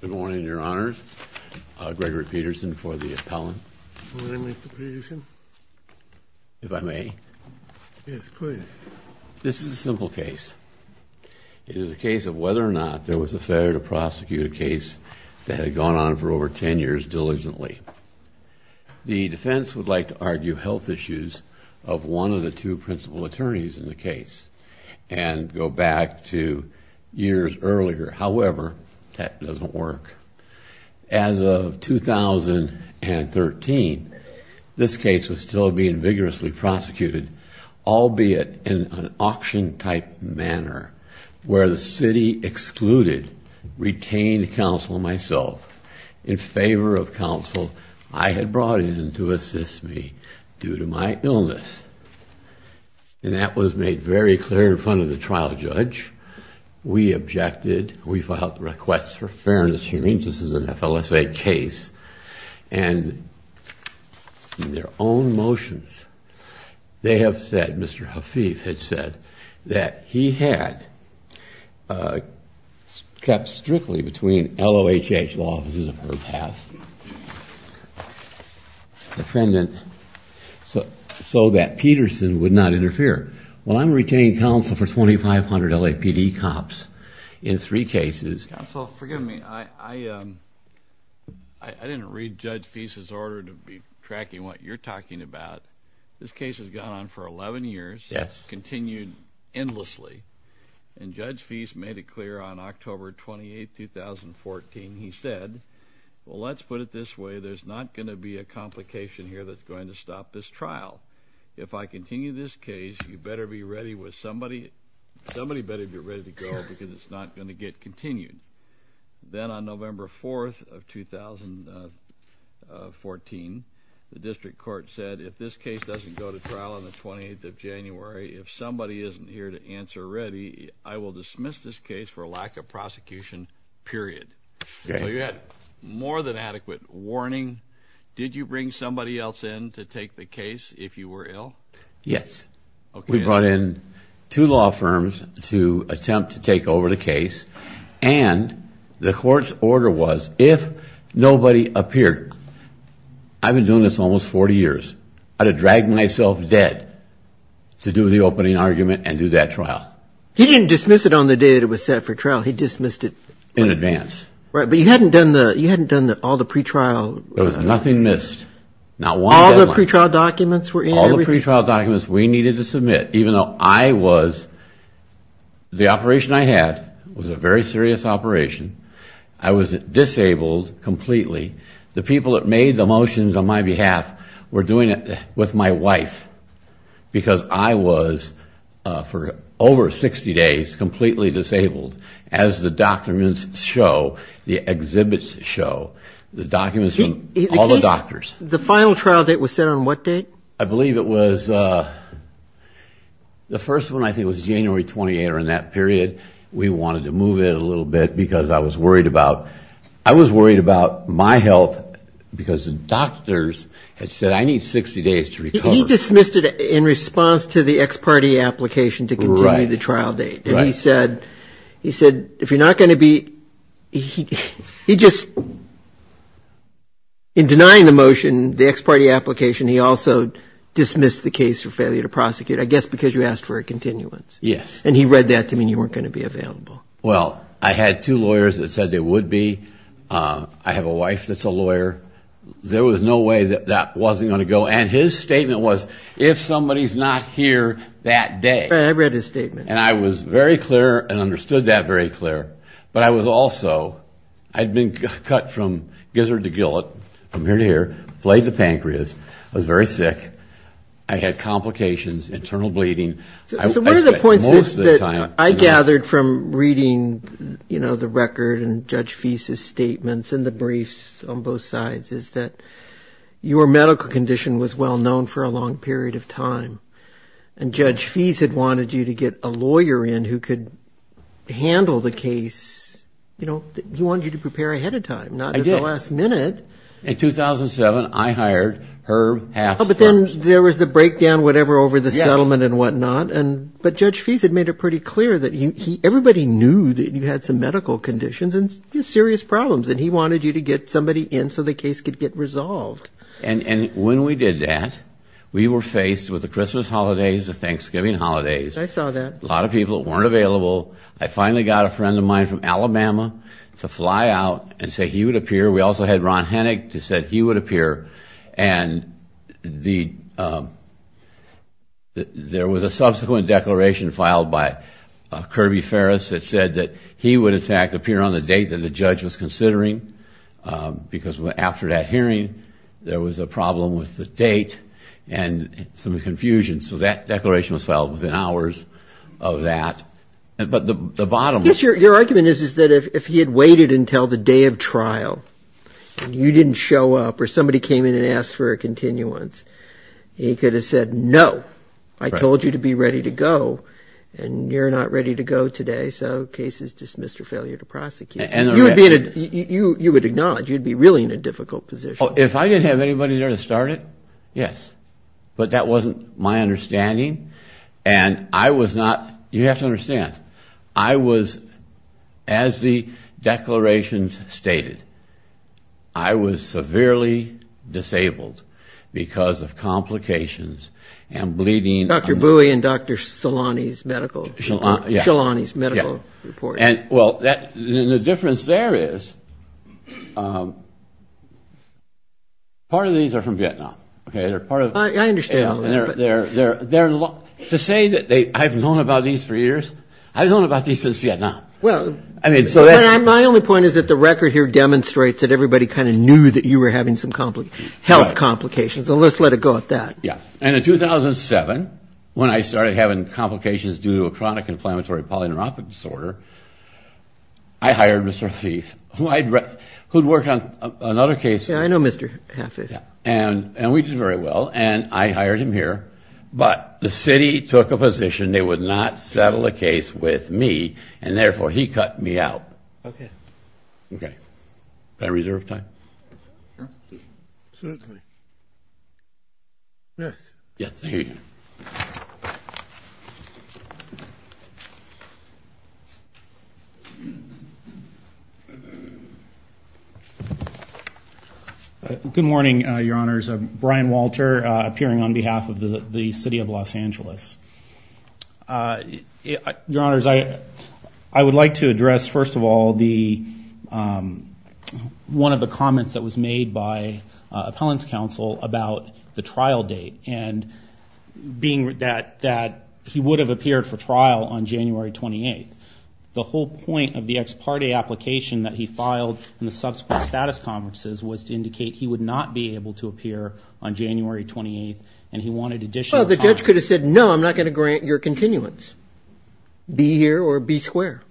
Good morning, your honors. Gregory Peterson for the appellant. Good morning, Mr. Peterson. If I may. Yes, please. This is a simple case. It is a case of whether or not there was a fair to prosecute case that had gone on for over ten years diligently. The defense would like to argue health issues of one of the two principal attorneys in the case and go back to years earlier. However, that doesn't work. As of 2013, this case was still being vigorously prosecuted, albeit in an auction-type manner, where the city excluded retained counsel myself in favor of counsel I had brought in to assist me due to my illness. And that was made very clear in front of the trial judge. We objected. We filed requests for fairness hearings. This is an FLSA case. And in their own motions, they have said, Mr. Hafeef had said, that he had kept strictly between LOHH law offices of her past defendant so that Peterson would not interfere. Well, I'm retaining counsel for 2,500 LAPD cops in three cases. Counsel, forgive me. I didn't read Judge Feist's order to be tracking what you're talking about. This case has gone on for 11 years, continued endlessly. And Judge Feist made it clear on October 28, 2014. He said, well, let's put it this way. There's not going to be a complication here that's going to stop this trial. If I continue this case, you better be ready with somebody. Somebody better be ready to go because it's not going to get continued. Then on November 4, 2014, the district court said, if this case doesn't go to trial on the 28th of January, if somebody isn't here to answer ready, I will dismiss this case for lack of prosecution, period. You had more than adequate warning. Did you bring somebody else in to take the case if you were ill? Yes. We brought in two law firms to attempt to take over the case. And the court's order was, if nobody appeared, I've been doing this almost 40 years, I'd have dragged myself dead to do the opening argument and do that trial. He didn't dismiss it on the day it was set for trial. He dismissed it... But you hadn't done all the pre-trial... There was nothing missed. All the pre-trial documents were in? All the pre-trial documents we needed to submit, even though I was... the operation I had was a very serious operation. I was disabled completely. The people that made the motions on my behalf were doing it with my wife. Because I was, for over 60 days, completely disabled, as the documents show, the exhibits show, the documents from all the doctors. The final trial date was set on what date? I believe it was... the first one, I think, was January 28th or in that period. We wanted to move it a little bit because I was worried about... I was worried about my health because the doctors had said, I need 60 days to recover. He dismissed it in response to the ex parte application to continue the trial date. And he said, if you're not going to be... he just... in denying the motion, the ex parte application, he also dismissed the case for failure to prosecute, I guess because you asked for a continuance. Yes. And he read that to mean you weren't going to be available. Well, I had two lawyers that said they would be. I have a wife that's a lawyer. There was no way that that wasn't going to go. And his statement was, if somebody's not here that day... I read his statement. And I was very clear and understood that very clear. But I was also... I'd been cut from gizzard to gillet, from ear to ear, flayed the pancreas. I was very sick. I had complications, internal bleeding. So one of the points that I gathered from reading the record and Judge Fease's statements and the briefs on both sides is that your medical condition was well-known for a long period of time. And Judge Fease had wanted you to get a lawyer in who could handle the case. He wanted you to prepare ahead of time, not at the last minute. I did. In 2007, I hired her... Well, but then there was the breakdown, whatever, over the settlement and whatnot. But Judge Fease had made it pretty clear that everybody knew that you had some medical conditions and serious problems, and he wanted you to get somebody in so the case could get resolved. And when we did that, we were faced with the Christmas holidays, the Thanksgiving holidays. I saw that. A lot of people that weren't available. I finally got a friend of mine from Alabama to fly out and say he would appear. We also had Ron Hennig who said he would appear. And there was a subsequent declaration filed by Kirby Ferris that said that he would, in fact, appear on the date that the judge was considering because after that hearing, there was a problem with the date and some confusion. So that declaration was filed within hours of that. But the bottom... Yes, your argument is that if he had waited until the day of trial and you didn't show up or somebody came in and asked for a continuance, he could have said, no, I told you to be ready to go and you're not ready to go today, so case is dismissed or failure to prosecute. You would acknowledge you'd be really in a difficult position. If I didn't have anybody there to start it, yes. But that wasn't my understanding, and I was not... You have to understand, I was, as the declarations stated, I was severely disabled because of complications and bleeding. Dr. Bowie and Dr. Shalani's medical report. Well, the difference there is part of these are from Vietnam. I understand. To say that I've known about these for years, I've known about these since Vietnam. My only point is that the record here demonstrates that everybody kind of knew that you were having some health complications, so let's let it go at that. And in 2007, when I started having complications due to a chronic inflammatory polyneurophic disorder, I hired Mr. Hafeef, who'd worked on another case. Yeah, I know Mr. Hafeef. And we did very well, and I hired him here, but the city took a position that they would not settle a case with me, and therefore he cut me out. Okay. Okay. Can I reserve time? Sure. Absolutely. Yes. Yes, thank you. Thank you. Good morning, Your Honors. I'm Brian Walter, appearing on behalf of the City of Los Angeles. Your Honors, I would like to address, first of all, one of the comments that was made by appellant's counsel about the trial date, and being that he would have appeared for trial on January 28th. The whole point of the ex parte application that he filed in the subsequent status conferences was to indicate he would not be able to appear on January 28th, and he wanted additional time. Well, the judge could have said, no, I'm not going to grant your continuance. Be here or be square.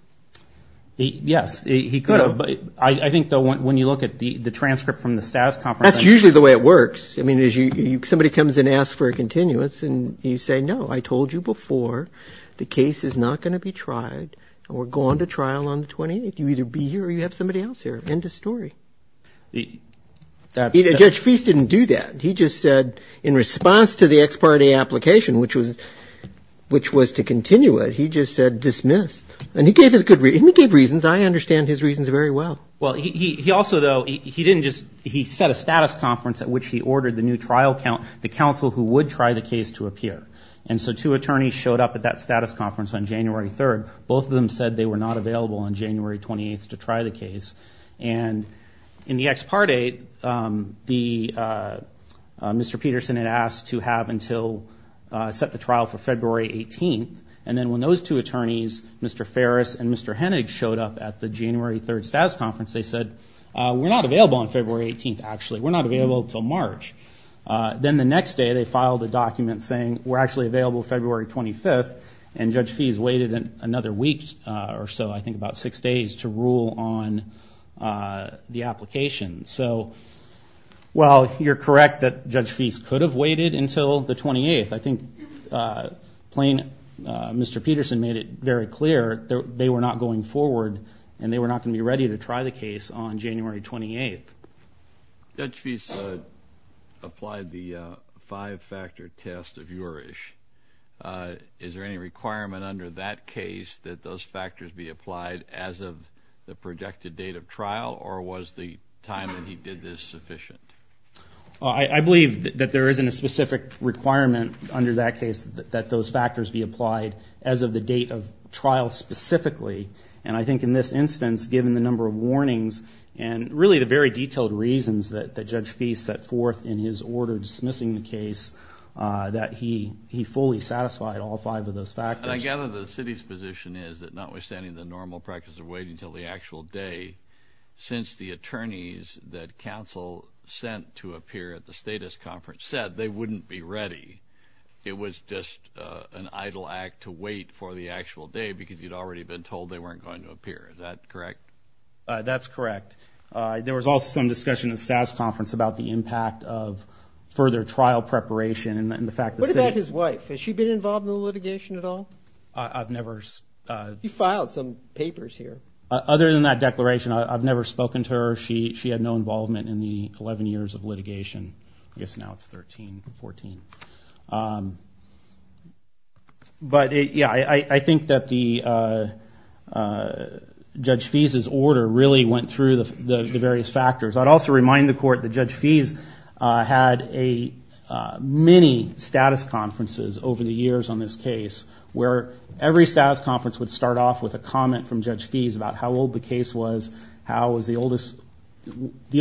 Yes, he could have. I think, though, when you look at the transcript from the status conference. That's usually the way it works. I mean, somebody comes and asks for a continuance, and you say, no, I told you before, the case is not going to be tried, and we're going to trial on the 28th. You either be here or you have somebody else here. End of story. Judge Feist didn't do that. He just said, in response to the ex parte application, which was to continue it, he just said, dismiss. And he gave his good reason. He gave reasons. I understand his reasons very well. Well, he also, though, he didn't just he set a status conference at which he ordered the new trial the counsel who would try the case to appear. And so two attorneys showed up at that status conference on January 3rd. Both of them said they were not available on January 28th to try the case. And in the ex parte, Mr. Peterson had asked to have until set the trial for February 18th, and then when those two attorneys, Mr. Ferris and Mr. Hennig, showed up at the January 3rd status conference, they said, we're not available on February 18th, actually. We're not available until March. Then the next day they filed a document saying we're actually available February 25th, and Judge Feist waited another week or so, I think about six days, to rule on the application. So, well, you're correct that Judge Feist could have waited until the 28th. I think plain Mr. Peterson made it very clear they were not going forward and they were not going to be ready to try the case on January 28th. Judge Feist applied the five-factor test of Jurisch. Is there any requirement under that case that those factors be applied as of the projected date of trial, or was the time that he did this sufficient? I believe that there isn't a specific requirement under that case that those factors be applied as of the date of trial specifically. And I think in this instance, given the number of warnings and really the very detailed reasons that Judge Feist set forth in his order dismissing the case, that he fully satisfied all five of those factors. And I gather the city's position is that notwithstanding the normal practice of waiting until the actual day, since the attorneys that counsel sent to appear at the status conference said they wouldn't be ready, it was just an idle act to wait for the actual day because you'd already been told they weren't going to appear. Is that correct? That's correct. There was also some discussion at the SAS conference about the impact of further trial preparation and the fact that the city- What about his wife? Has she been involved in the litigation at all? I've never- He filed some papers here. Other than that declaration, I've never spoken to her. She had no involvement in the 11 years of litigation. I guess now it's 13 or 14. But yeah, I think that Judge Feist's order really went through the various factors. I'd also remind the court that Judge Feist had many status conferences over the years on this case where every status conference would start off with a comment from Judge Feist about how old the case was, how it was the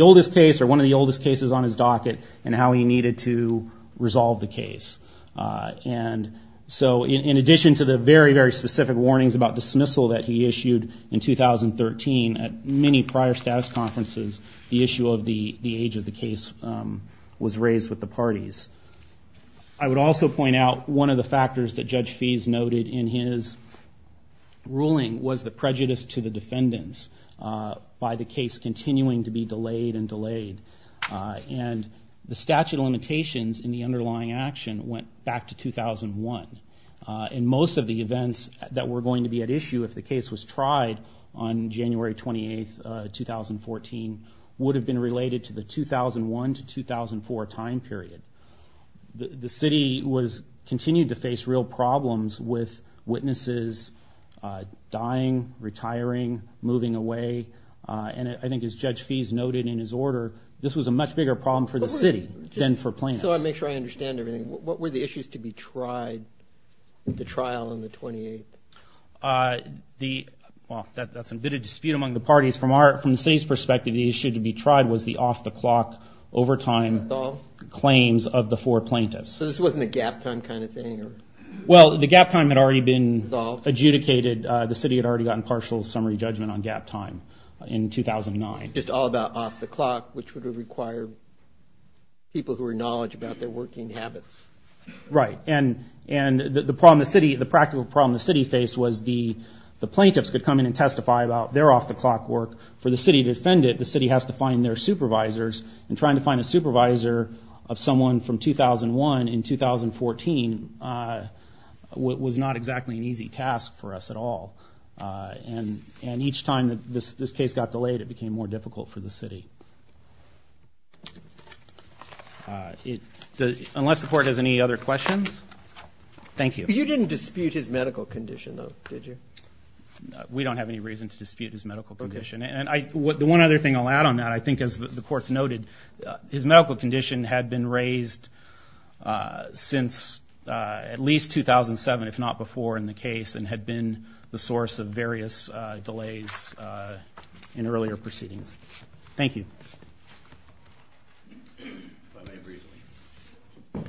oldest case or one of the oldest cases on his docket, and how he needed to resolve the case. And so in addition to the very, very specific warnings about dismissal that he issued in 2013, at many prior status conferences, the issue of the age of the case was raised with the parties. I would also point out one of the factors that Judge Feist noted in his ruling was the prejudice to the defendants by the case continuing to be delayed and delayed. And the statute of limitations in the underlying action went back to 2001. And most of the events that were going to be at issue if the case was tried on January 28, 2014, would have been related to the 2001 to 2004 time period. The city continued to face real problems with witnesses dying, retiring, moving away. And I think as Judge Feist noted in his order, this was a much bigger problem for the city than for plaintiffs. So I'll make sure I understand everything. What were the issues to be tried at the trial on the 28th? Well, that's a bit of dispute among the parties. From the city's perspective, the issue to be tried was the off-the-clock overtime claims of the four plaintiffs. So this wasn't a gap time kind of thing? Well, the gap time had already been adjudicated. The city had already gotten partial summary judgment on gap time in 2009. Just all about off-the-clock, which would require people who were knowledgeable about their working habits. Right. And the practical problem the city faced was the plaintiffs could come in and testify about their off-the-clock work. For the city to defend it, the city has to find their supervisors. And trying to find a supervisor of someone from 2001 in 2014 was not exactly an easy task for us at all. And each time this case got delayed, it became more difficult for the city. Unless the court has any other questions? Thank you. You didn't dispute his medical condition, though, did you? We don't have any reason to dispute his medical condition. And the one other thing I'll add on that, I think as the court's noted, his medical condition had been raised since at least 2007, if not before, in the case, and had been the source of various delays in earlier proceedings. Thank you. If I may briefly.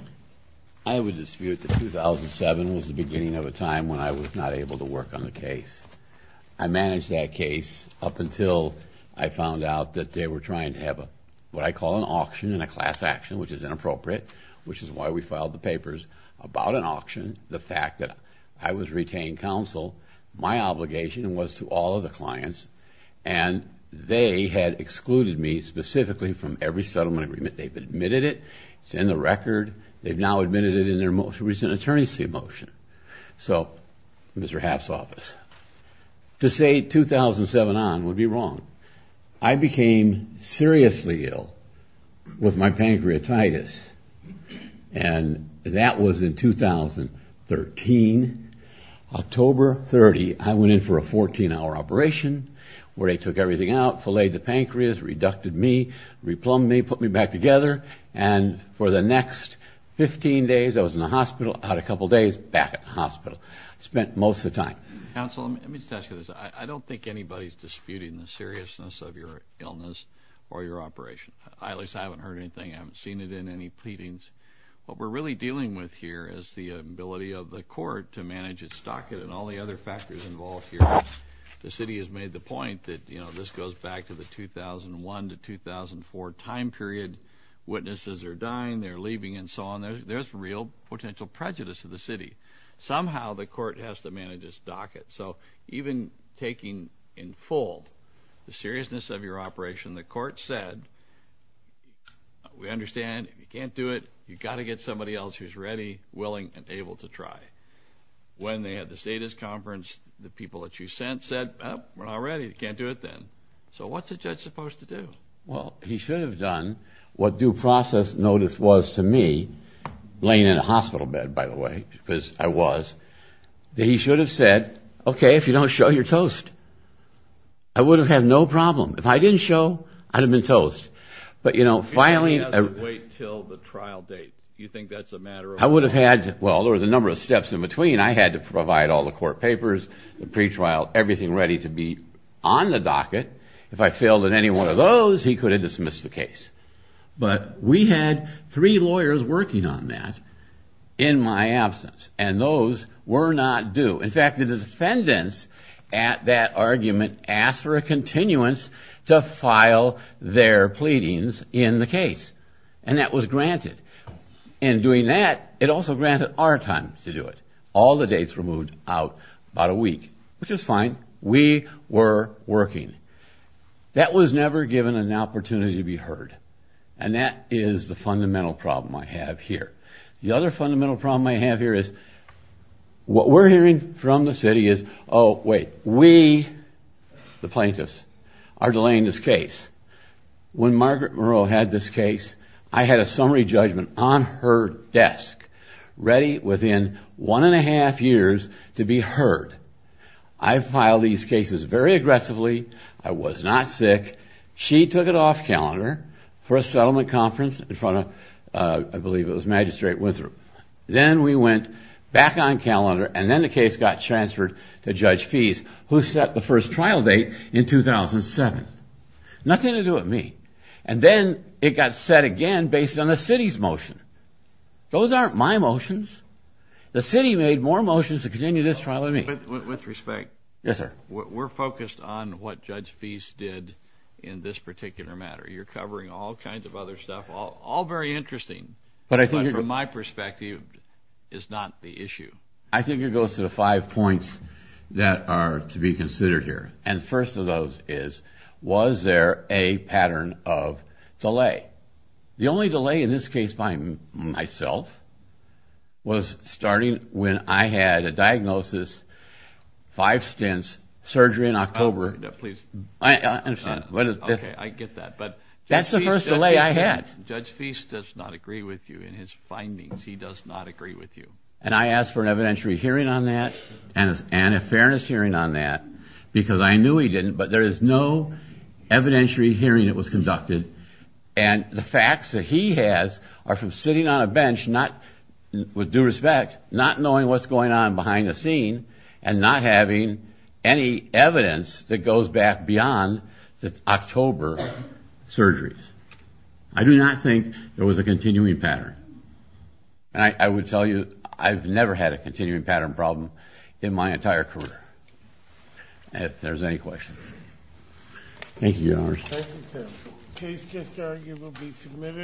I would dispute that 2007 was the beginning of a time when I was not able to work on the case. I managed that case up until I found out that they were trying to have what I call an auction and a class action, which is inappropriate, which is why we filed the papers about an auction. The fact that I was retained counsel, my obligation was to all of the clients, and they had excluded me specifically from every settlement agreement. They've admitted it. It's in the record. They've now admitted it in their most recent attorney's motion. So, Mr. Haft's office, to say 2007 on would be wrong. I became seriously ill with my pancreatitis, and that was in 2013. October 30, I went in for a 14-hour operation where they took everything out, filleted the pancreas, reducted me, replumbed me, put me back together, and for the next 15 days I was in the hospital, out a couple days, back at the hospital. I spent most of the time. Counsel, let me just ask you this. I don't think anybody's disputing the seriousness of your illness or your operation. At least I haven't heard anything. I haven't seen it in any pleadings. What we're really dealing with here is the ability of the court to manage its docket and all the other factors involved here. The city has made the point that, you know, this goes back to the 2001 to 2004 time period. Witnesses are dying, they're leaving, and so on. There's real potential prejudice to the city. Somehow the court has to manage its docket. So even taking in full the seriousness of your operation, the court said, we understand if you can't do it, you've got to get somebody else who's ready, willing, and able to try. When they had the status conference, the people that you sent said, we're not ready, you can't do it then. So what's a judge supposed to do? Well, he should have done what due process notice was to me, laying in a hospital bed, by the way, because I was. He should have said, okay, if you don't show, you're toast. I would have had no problem. If I didn't show, I'd have been toast. But, you know, filing. He doesn't wait until the trial date. You think that's a matter of. I would have had, well, there was a number of steps in between. I had to provide all the court papers, the pretrial, everything ready to be on the docket. If I failed at any one of those, he could have dismissed the case. But we had three lawyers working on that in my absence, and those were not due. In fact, the defendants at that argument asked for a continuance to file their pleadings in the case, and that was granted. In doing that, it also granted our time to do it. All the dates were moved out about a week, which was fine. We were working. That was never given an opportunity to be heard, and that is the fundamental problem I have here. The other fundamental problem I have here is what we're hearing from the city is, oh, wait, we, the plaintiffs, are delaying this case. When Margaret Moreau had this case, I had a summary judgment on her desk, ready within one and a half years to be heard. I filed these cases very aggressively. I was not sick. She took it off calendar for a settlement conference in front of, I believe it was Magistrate Withrop. Then we went back on calendar, and then the case got transferred to Judge Feese, who set the first trial date in 2007. Nothing to do with me. And then it got set again based on the city's motion. Those aren't my motions. The city made more motions to continue this trial than me. With respect. Yes, sir. We're focused on what Judge Feese did in this particular matter. You're covering all kinds of other stuff, all very interesting. But from my perspective, it's not the issue. I think it goes to the five points that are to be considered here. And the first of those is, was there a pattern of delay? The only delay in this case by myself was starting when I had a diagnosis, five stints, surgery in October. Please. I understand. Okay, I get that. But that's the first delay I had. Judge Feese does not agree with you in his findings. He does not agree with you. And I asked for an evidentiary hearing on that and a fairness hearing on that, because I knew he didn't, but there is no evidentiary hearing that was conducted. And the facts that he has are from sitting on a bench with due respect, not knowing what's going on behind the scene, and not having any evidence that goes back beyond the October surgeries. I do not think there was a continuing pattern. And I would tell you, I've never had a continuing pattern problem in my entire career. If there's any questions. Thank you, Your Honor. Thank you, sir. Case just arguably submitted.